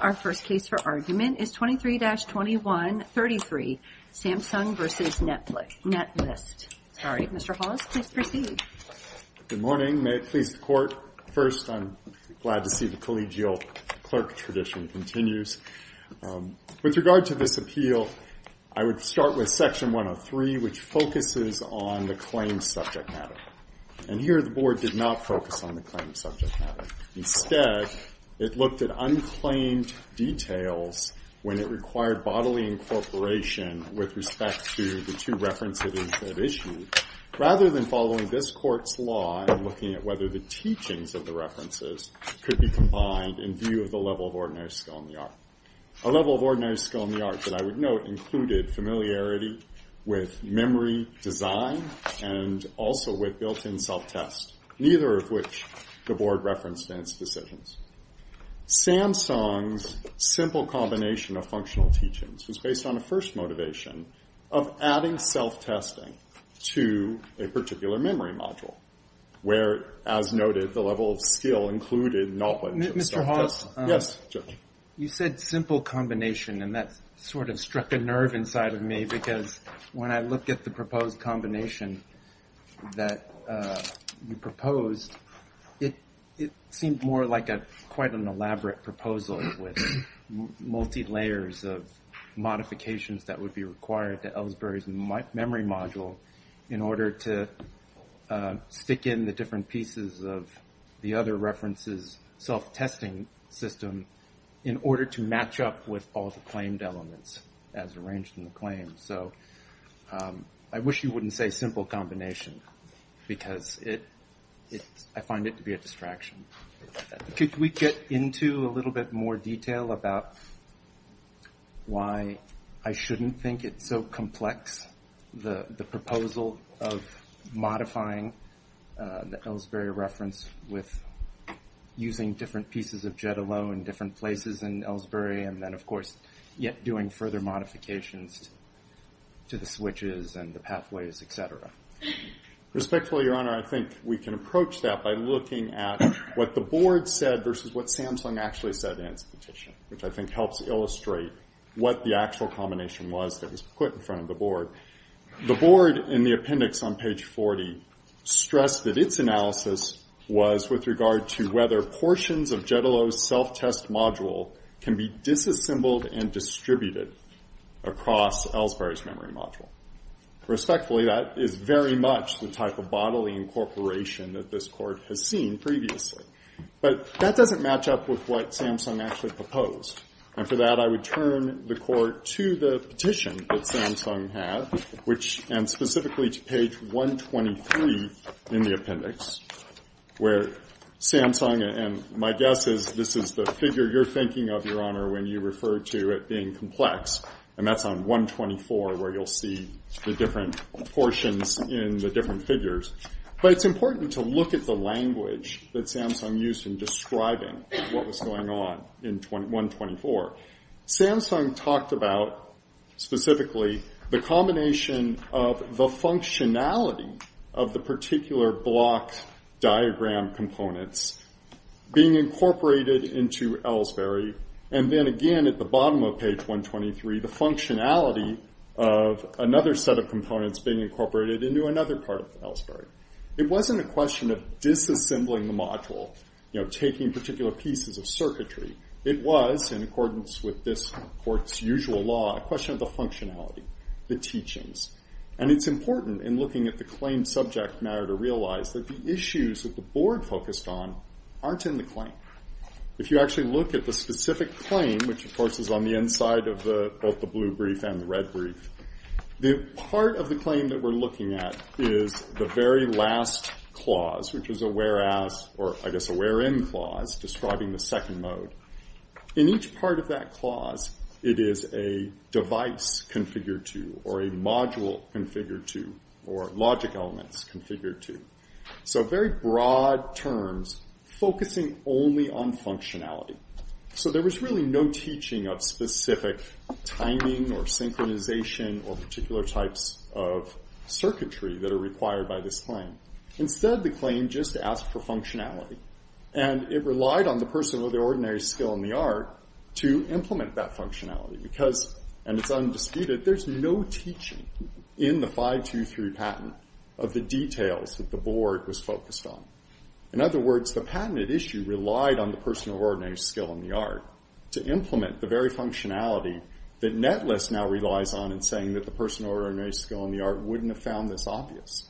Our first case for argument is 23-2133, Samsung v. Netlist. Mr. Hollis, please proceed. Good morning. May it please the Court. First, I'm glad to see the collegial clerk tradition continues. With regard to this appeal, I would start with Section 103, which focuses on the claims subject matter. And here, the Board did not focus on the claims subject matter. Instead, it looked at unclaimed details when it required bodily incorporation with respect to the two references it issued, rather than following this Court's law and looking at whether the teachings of the references could be combined in view of the level of ordinary skill in the art. A level of ordinary skill in the art that I would note included familiarity with memory design and also with built-in self-test, neither of which the Board referenced in its decisions. Samsung's simple combination of functional teachings was based on a first motivation of adding self-testing to a particular memory module, where, as noted, the level of skill included knowledge of self-test. Yes, Judge. You said simple combination, and that sort of struck a nerve inside of me because when I looked at the proposed combination that you proposed, it seemed more like quite an elaborate proposal with multi-layers of modifications that would be required to Ellsbury's memory module in order to stick in the different pieces of the other references' self-testing system in order to match up with all the claimed elements as arranged in the claim, so I wish you wouldn't say simple combination because I find it to be a distraction. Could we get into a little bit more detail about why I shouldn't think it's so complex, the proposal of modifying the Ellsbury reference with using different pieces of Jedaloh in different places in Ellsbury and then, of course, yet doing further modifications to the switches and the pathways, et cetera? Respectfully, Your Honor, I think we can approach that by looking at what the Board said versus what Samsung actually said in its petition, which I think helps illustrate what the actual combination was that was put in front of the Board. The Board, in the appendix on page 40, stressed that its analysis was with regard to whether portions of Jedaloh's self-test module can be disassembled and distributed across Ellsbury's memory module. Respectfully, that is very much the type of bodily incorporation that this Court has seen previously. But that doesn't match up with what Samsung actually proposed. And for that, I would turn the Court to the petition that Samsung had, and specifically to page 123 in the appendix, where Samsung, and my guess is this is the figure you're thinking of, Your Honor, when you refer to it being complex, and that's on 124 where you'll see the different portions in the different figures. But it's important to look at the language that Samsung used in describing what was going on in 124. Samsung talked about, specifically, the combination of the functionality of the particular block diagram components being incorporated into Ellsbury, and then again at the bottom of page 123, the functionality of another set of components being incorporated into another part of Ellsbury. It wasn't a question of disassembling the module, taking particular pieces of circuitry. It was, in accordance with this Court's usual law, a question of the functionality, the teachings. And it's important in looking at the claim subject matter to realize that the issues that the Board focused on aren't in the claim. If you actually look at the specific claim, which of course is on the inside of both the blue brief and the red brief, the part of the claim that we're looking at is the very last clause, which is a where-as, or I guess a where-in clause describing the second mode. In each part of that clause, it is a device configured to, or a module configured to, or logic elements configured to. So very broad terms focusing only on functionality. So there was really no teaching of specific timing or synchronization or particular types of circuitry that are required by this claim. Instead, the claim just asked for functionality. And it relied on the person with the ordinary skill in the art to implement that functionality. Because, and it's undisputed, there's no teaching in the 523 patent of the details that the Board was focused on. In other words, the patented issue relied on the person with ordinary skill in the art to implement the very functionality that Netless now relies on in saying that the person with ordinary skill in the art wouldn't have found this obvious.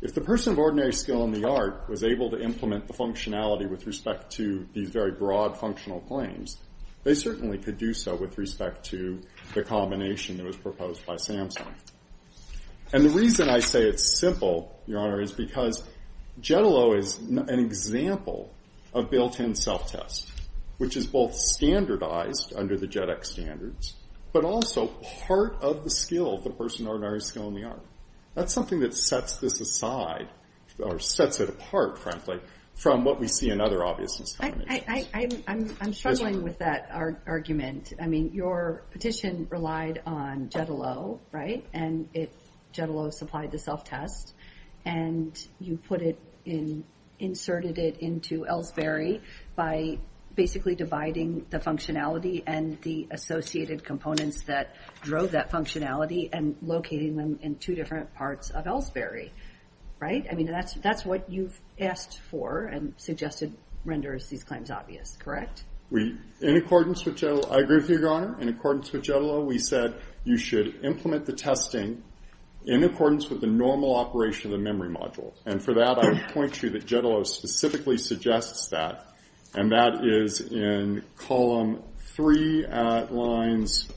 If the person with ordinary skill in the art was able to implement the functionality with respect to these very broad functional claims, they certainly could do so with respect to the combination that was proposed by Samsung. And the reason I say it's simple, Your Honor, is because Jetalo is an example of built-in self-test, which is both standardized under the JetX standards, but also part of the skill, the person with ordinary skill in the art. That's something that sets this aside, or sets it apart, frankly, from what we see in other obviousness combinations. I'm struggling with that argument. I mean, your petition relied on Jetalo, right? And Jetalo supplied the self-test. And you put it in, inserted it into Ellsbury by basically dividing the functionality and the associated components that drove that functionality and locating them in two different parts of Ellsbury, right? I mean, that's what you've asked for and suggested renders these claims obvious, correct? In accordance with Jetalo, I agree with you, Your Honor. In accordance with Jetalo, we said you should implement the testing in accordance with the normal operation of the memory module. And for that, I would point to you that Jetalo specifically suggests that. And that is in column three at lines,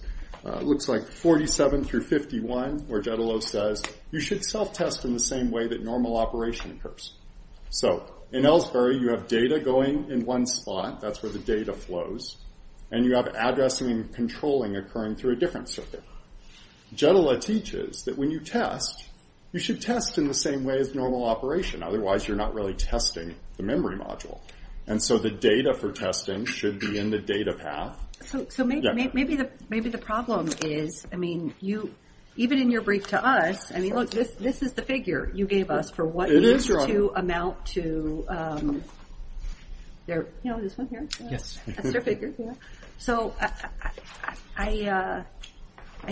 looks like 47 through 51, where Jetalo says, you should self-test in the same way that normal operation occurs. So in Ellsbury, you have data going in one slot. That's where the data flows. And you have addressing and controlling occurring through a different circuit. Jetalo teaches that when you test, you should test in the same way as normal operation. Otherwise, you're not really testing the memory module. And so the data for testing should be in the data path. So maybe the problem is, I mean, even in your brief to us, I mean, look, this is the figure you gave us for what you need to amount to their, you know, this one here? Yes. That's their figure, yeah. So I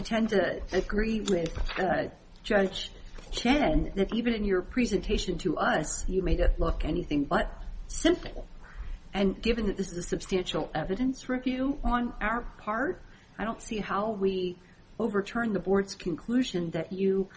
tend to agree with Judge Chen that even in your presentation to us, you made it look anything but simple. And given that this is a substantial evidence review on our part, I don't see how we overturn the board's conclusion that you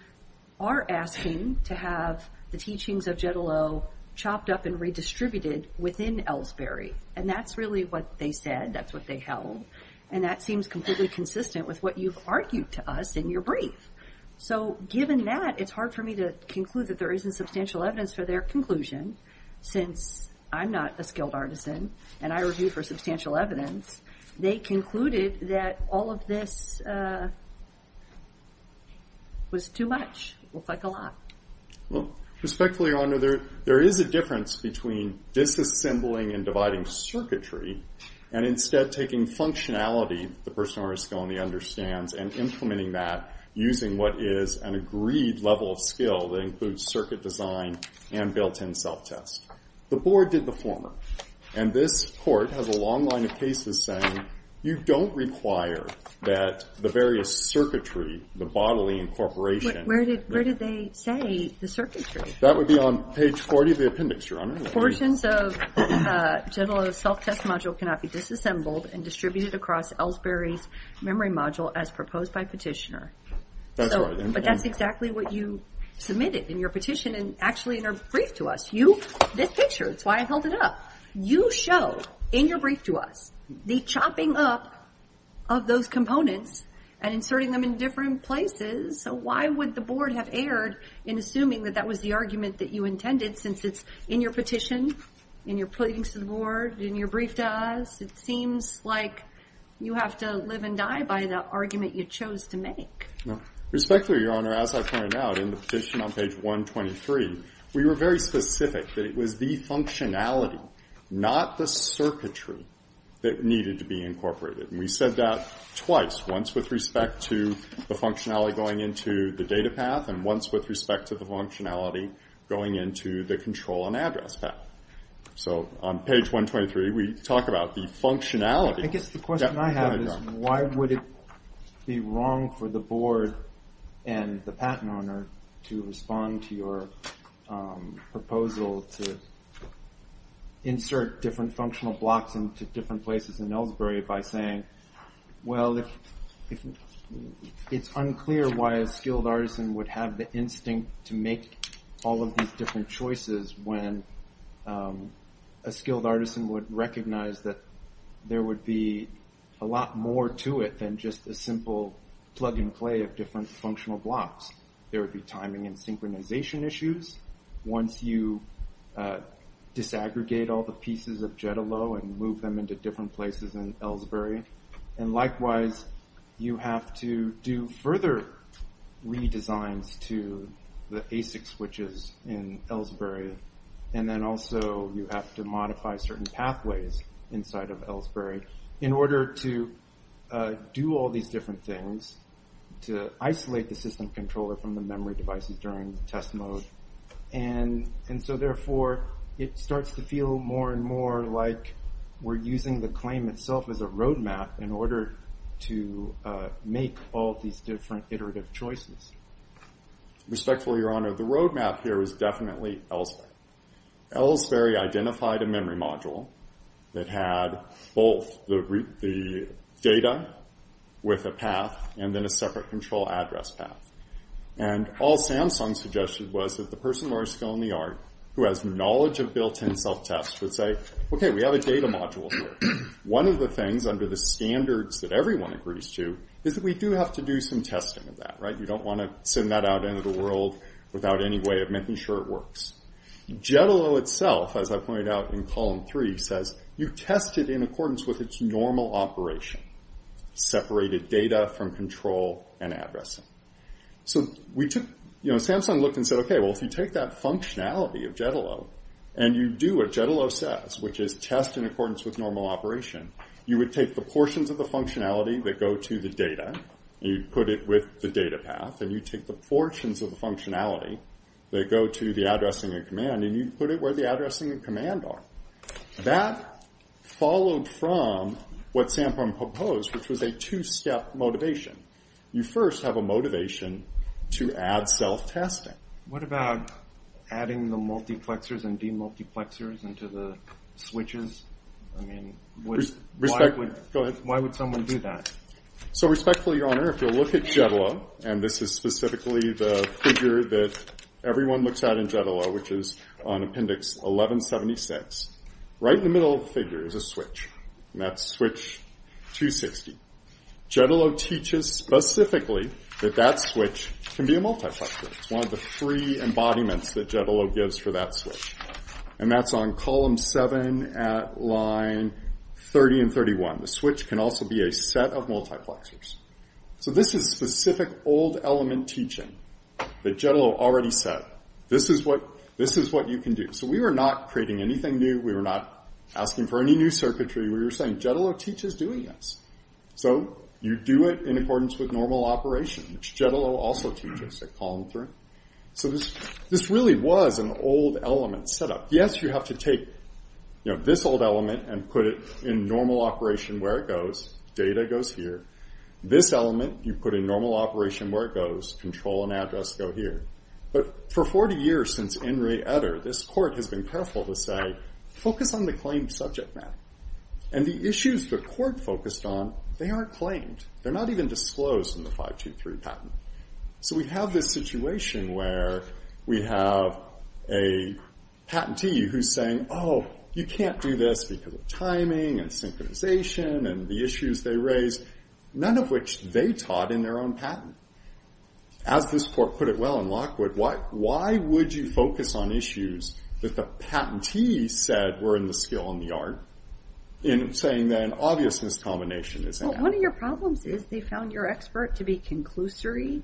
are asking to have the teachings of Jetalo chopped up and redistributed within Ellsbury. And that's really what they said. That's what they held. And that seems completely consistent with what you've argued to us in your brief. So given that, it's hard for me to conclude that there isn't substantial evidence for their conclusion, since I'm not a skilled artisan and I review for substantial evidence. They concluded that all of this was too much. It looks like a lot. Respectfully, Your Honor, there is a difference between disassembling and dividing circuitry and instead taking functionality the person or a skill only understands and implementing that using what is an agreed level of skill that includes circuit design and built-in self-test. The board did the former. And this court has a long line of cases saying you don't require that the various circuitry, the bodily incorporation. Where did they say the circuitry? That would be on page 40 of the appendix, Your Honor. Portions of General's self-test module cannot be disassembled and distributed across Ellsbury's memory module as proposed by petitioner. But that's exactly what you submitted in your petition and actually in your brief to us. This picture, that's why I held it up. You show in your brief to us the chopping up of those components and inserting them in different places. So why would the board have erred in assuming that that was the argument that you intended, since it's in your petition, in your pleadings to the board, in your brief to us? It seems like you have to live and die by the argument you chose to make. Respectfully, Your Honor, as I pointed out in the petition on page 123, we were very specific that it was the functionality, not the circuitry, that needed to be incorporated. And we said that twice, once with respect to the functionality going into the data path and once with respect to the functionality going into the control and address path. So on page 123, we talk about the functionality. I guess the question I have is why would it be wrong for the board and the patent owner to respond to your proposal to insert different functional blocks into different places in Ellsbury by saying, well, it's unclear why a skilled artisan would have the instinct to make all of these different choices when a skilled artisan would recognize that there would be a lot more to it than just a simple plug and play of different functional blocks. There would be timing and synchronization issues. Once you disaggregate all the pieces of Jetalo and move them into different places in Ellsbury, and likewise, you have to do further redesigns to the ASIC switches in Ellsbury, and then also you have to modify certain pathways inside of Ellsbury in order to do all these different things to isolate the system controller from the memory devices during the test mode. And so therefore, it starts to feel more and more like we're using the claim itself as a roadmap in order to make all these different iterative choices. Respectfully, Your Honor, the roadmap here is definitely Ellsbury. Ellsbury identified a memory module that had both the data with a path and then a separate control address path. And all Samsung suggested was that the person who had a skill in the art, who has knowledge of built-in self-test, would say, okay, we have a data module here. One of the things under the standards that everyone agrees to is that we do have to do some testing of that. You don't want to send that out into the world without any way of making sure it works. Jetalo itself, as I pointed out in column three, says, you test it in accordance with its normal operation, separated data from control and address. So Samsung looked and said, okay, well, if you take that functionality of Jetalo and you do what Jetalo says, which is test in accordance with normal operation, you would take the portions of the functionality that go to the data and you'd put it with the data path and you'd take the portions of the functionality that go to the addressing and command and you'd put it where the addressing and command are. That followed from what Samsung proposed, which was a two-step motivation. You first have a motivation to add self-testing. What about adding the multiplexers and demultiplexers into the switches? I mean, why would someone do that? So respectfully, Your Honor, if you'll look at Jetalo, and this is specifically the figure that everyone looks at in Jetalo, which is on Appendix 1176, right in the middle of the figure is a switch, and that's switch 260. Jetalo teaches specifically that that switch can be a multiplexer. It's one of the free embodiments that Jetalo gives for that switch. And that's on column 7 at line 30 and 31. The switch can also be a set of multiplexers. So this is specific old element teaching that Jetalo already said. This is what you can do. So we were not creating anything new. We were not asking for any new circuitry. We were saying Jetalo teaches doing this. So you do it in accordance with normal operation, which Jetalo also teaches at column 3. So this really was an old element set up. Yes, you have to take this old element and put it in normal operation where it goes. Data goes here. This element you put in normal operation where it goes. Control and address go here. But for 40 years since Enri Eder, this court has been careful to say, focus on the claimed subject matter. And the issues the court focused on, they aren't claimed. They're not even disclosed in the 523 patent. So we have this situation where we have a patentee who's saying, oh, you can't do this because of timing and synchronization and the issues they raise, none of which they taught in their own patent. As this court put it well in Lockwood, why would you focus on issues that the patentee said were in the skill and the art in saying that an obvious miscombination is in it? Well, one of your problems is they found your expert to be conclusory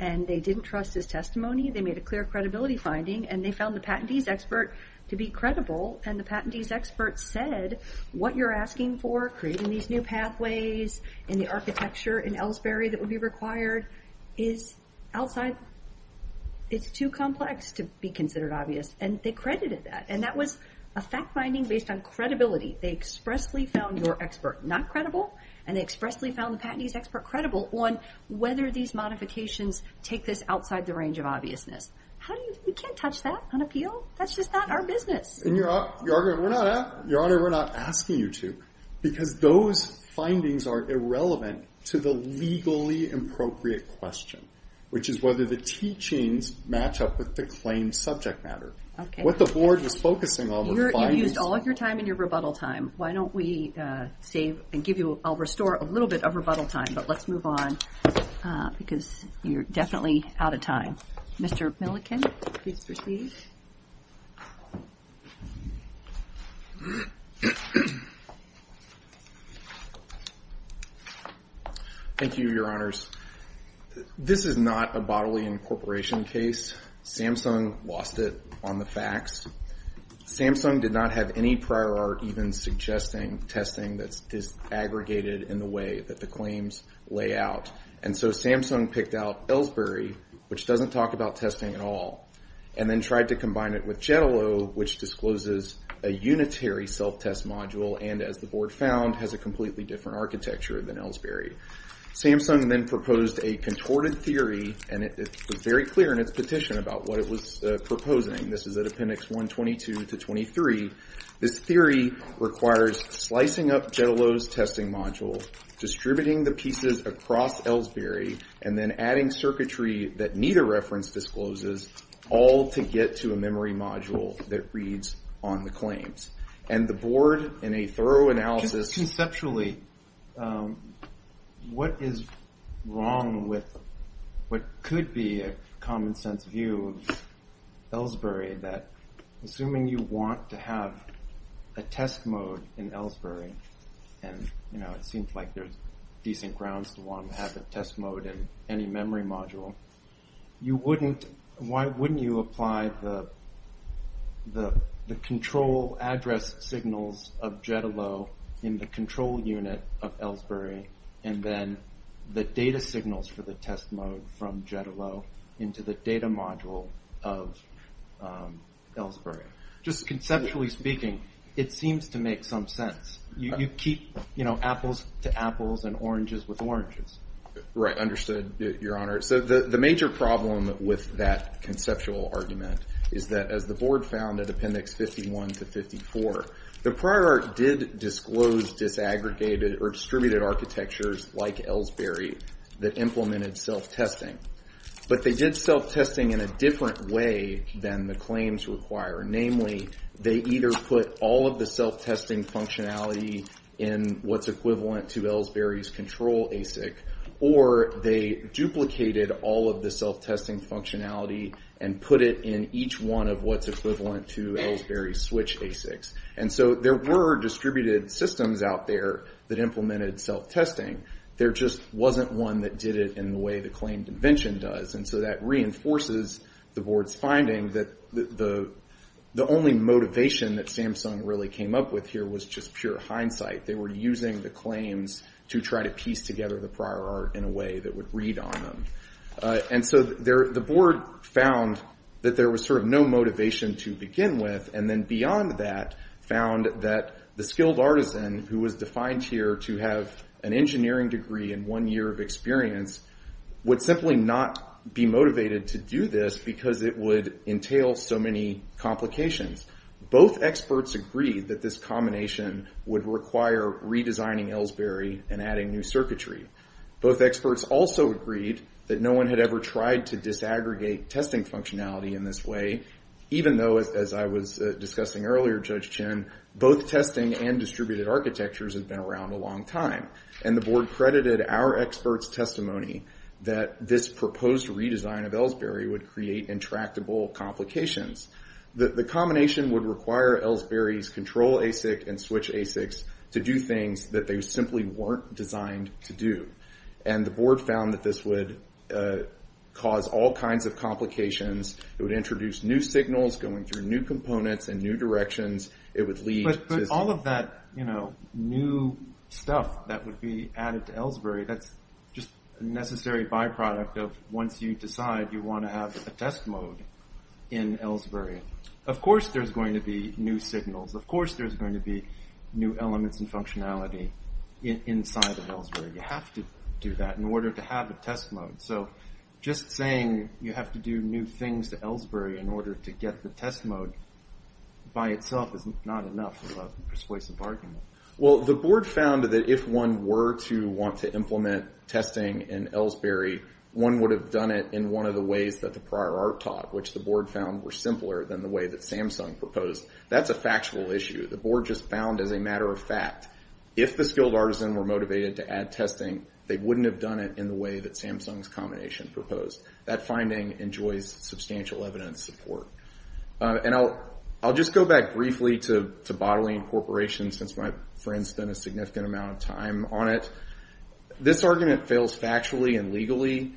and they didn't trust his testimony. They made a clear credibility finding and they found the patentee's expert to be credible and the patentee's expert said what you're asking for, creating these new pathways, and the architecture in Ellsbury that would be required is outside. It's too complex to be considered obvious. And they credited that. And that was a fact-finding based on credibility. They expressly found your expert not credible and they expressly found the patentee's expert credible on whether these modifications take this outside the range of obviousness. We can't touch that on appeal. That's just not our business. Your Honor, we're not asking you to because those findings are irrelevant to the legally appropriate question, which is whether the teachings match up with the claimed subject matter. What the board was focusing on were findings. You've used all of your time and your rebuttal time. Why don't we save and I'll restore a little bit of rebuttal time, but let's move on because you're definitely out of time. Mr. Milliken, please proceed. Thank you, Your Honors. This is not a bodily incorporation case. Samsung lost it on the facts. Samsung did not have any prior art even suggesting testing that is aggregated in the way that the claims lay out. And so Samsung picked out Ellsbury, which doesn't talk about testing at all, and then tried to combine it with Jetalo, which discloses a unitary self-test module and, as the board found, has a completely different architecture than Ellsbury. Samsung then proposed a contorted theory, and it was very clear in its petition about what it was proposing. This is at Appendix 122 to 23. This theory requires slicing up Jetalo's testing module, distributing the pieces across Ellsbury, and then adding circuitry that neither reference discloses, all to get to a memory module that reads on the claims. And the board, in a thorough analysis- Assuming you want to have a test mode in Ellsbury, and it seems like there's decent grounds to want to have a test mode in any memory module, why wouldn't you apply the control address signals of Jetalo in the control unit of Ellsbury, and then the data signals for the test mode from Jetalo into the data module of Ellsbury? Just conceptually speaking, it seems to make some sense. You keep apples to apples and oranges with oranges. Right, understood, Your Honor. So the major problem with that conceptual argument is that, as the board found at Appendix 51 to 54, the prior art did disclose disaggregated or distributed architectures like Ellsbury that implemented self-testing. But they did self-testing in a different way than the claims require. Namely, they either put all of the self-testing functionality in what's equivalent to Ellsbury's control ASIC, or they duplicated all of the self-testing functionality and put it in each one of what's equivalent to Ellsbury's switch ASICs. And so there were distributed systems out there that implemented self-testing. There just wasn't one that did it in the way the claim convention does. And so that reinforces the board's finding that the only motivation that Samsung really came up with here was just pure hindsight. They were using the claims to try to piece together the prior art in a way that would read on them. And so the board found that there was sort of no motivation to begin with, and then beyond that found that the skilled artisan who was defined here to have an engineering degree and one year of experience would simply not be motivated to do this because it would entail so many complications. Both experts agreed that this combination would require redesigning Ellsbury and adding new circuitry. Both experts also agreed that no one had ever tried to disaggregate testing functionality in this way, even though, as I was discussing earlier, Judge Chin, both testing and distributed architectures have been around a long time. And the board credited our experts' testimony that this proposed redesign of Ellsbury would create intractable complications. The combination would require Ellsbury's control ASIC and switch ASICs to do things that they simply weren't designed to do. And the board found that this would cause all kinds of complications. It would introduce new signals going through new components and new directions. It would lead to... But all of that new stuff that would be added to Ellsbury, that's just a necessary byproduct of once you decide you want to have a test mode in Ellsbury. Of course there's going to be new signals. Of course there's going to be new elements and functionality inside of Ellsbury. You have to do that in order to have a test mode. So just saying you have to do new things to Ellsbury in order to get the test mode by itself is not enough of a persuasive argument. Well, the board found that if one were to want to implement testing in Ellsbury, one would have done it in one of the ways that the prior art taught, which the board found were simpler than the way that Samsung proposed. That's a factual issue. The board just found as a matter of fact. If the skilled artisan were motivated to add testing, they wouldn't have done it in the way that Samsung's combination proposed. That finding enjoys substantial evidence support. And I'll just go back briefly to Bottling Corporation since my friend's spent a significant amount of time on it. This argument fails factually and legally.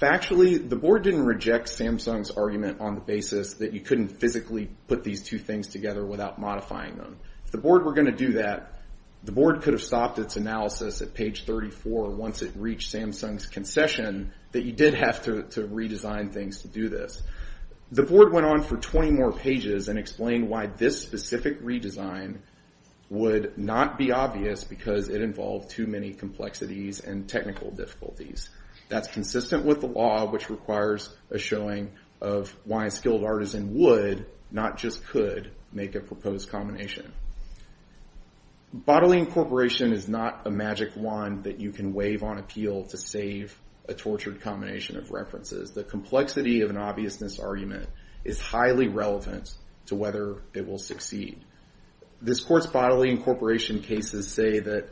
Factually, the board didn't reject Samsung's argument on the basis that you couldn't physically put these two things together without modifying them. If the board were going to do that, the board could have stopped its analysis at page 34 once it reached Samsung's concession that you did have to redesign things to do this. The board went on for 20 more pages and explained why this specific redesign would not be obvious because it involved too many complexities and technical difficulties. That's consistent with the law, which requires a showing of why a skilled artisan would, not just could, make a proposed combination. Bottling Corporation is not a magic wand that you can wave on appeal to save a tortured combination of references. The complexity of an obviousness argument is highly relevant to whether it will succeed. This court's Bottling Corporation cases say that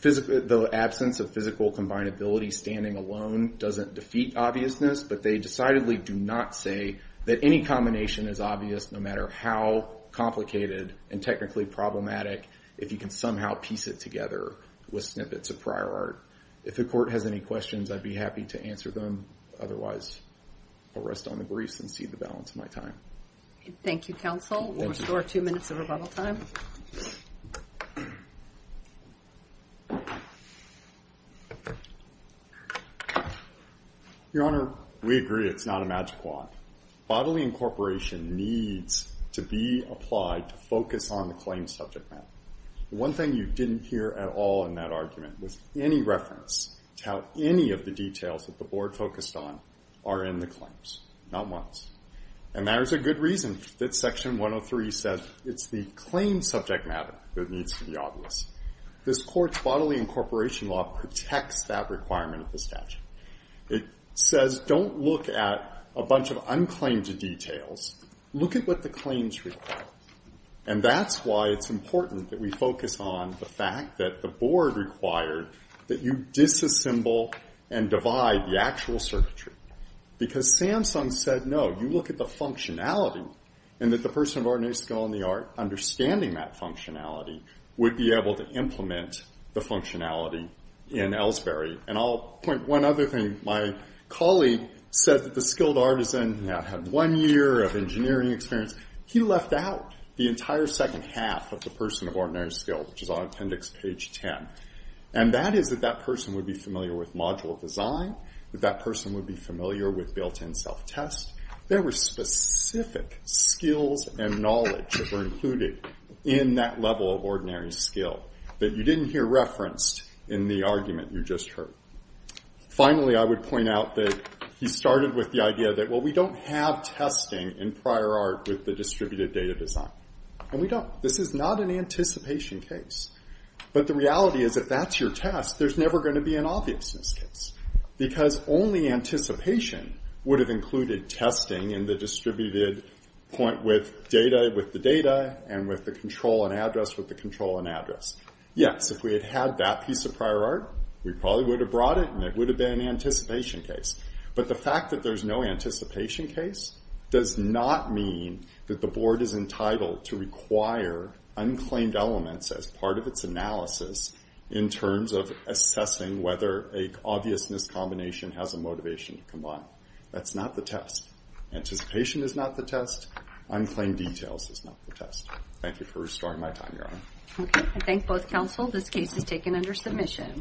the absence of physical combinability standing alone doesn't defeat obviousness, but they decidedly do not say that any combination is obvious no matter how complicated and technically problematic if you can somehow piece it together with snippets of prior art. If the court has any questions, I'd be happy to answer them. Otherwise, I'll rest on the briefs and cede the balance of my time. Thank you, counsel. We'll restore two minutes of rebuttal time. Your Honor, we agree it's not a magic wand. Bottling Corporation needs to be applied to focus on the claim subject matter. One thing you didn't hear at all in that argument was any reference to how any of the details that the Board focused on are in the claims, not once. And there's a good reason that Section 103 says it's the claim subject matter that needs to be obvious. This court's Bottling Corporation law protects that requirement of the statute. It says don't look at a bunch of unclaimed details. Look at what the claims require. And that's why it's important that we focus on the fact that the Board required that you disassemble and divide the actual circuitry. Because Samsung said no, you look at the functionality, and that the person of ordinary skill in the art, understanding that functionality, would be able to implement the functionality in Ellsbury. And I'll point one other thing. My colleague said that the skilled artisan that had one year of engineering experience, he left out the entire second half of the person of ordinary skill, which is on appendix page 10. And that is that that person would be familiar with module design, that that person would be familiar with built-in self-test. There were specific skills and knowledge that were included in that level of ordinary skill that you didn't hear referenced in the argument you just heard. Finally, I would point out that he started with the idea that well, we don't have testing in prior art with the distributed data design. And we don't. This is not an anticipation case. But the reality is if that's your test, there's never going to be an obviousness case. Because only anticipation would have included testing in the distributed point with data, with the data, and with the control and address with the control and address. Yes, if we had had that piece of prior art, we probably would have brought it, and it would have been an anticipation case. But the fact that there's no anticipation case does not mean that the board is entitled to require unclaimed elements as part of its analysis in terms of assessing whether an obviousness combination has a motivation to combine. That's not the test. Anticipation is not the test. Unclaimed details is not the test. Thank you for restoring my time, Your Honor. Okay. I thank both counsel. This case is taken under submission.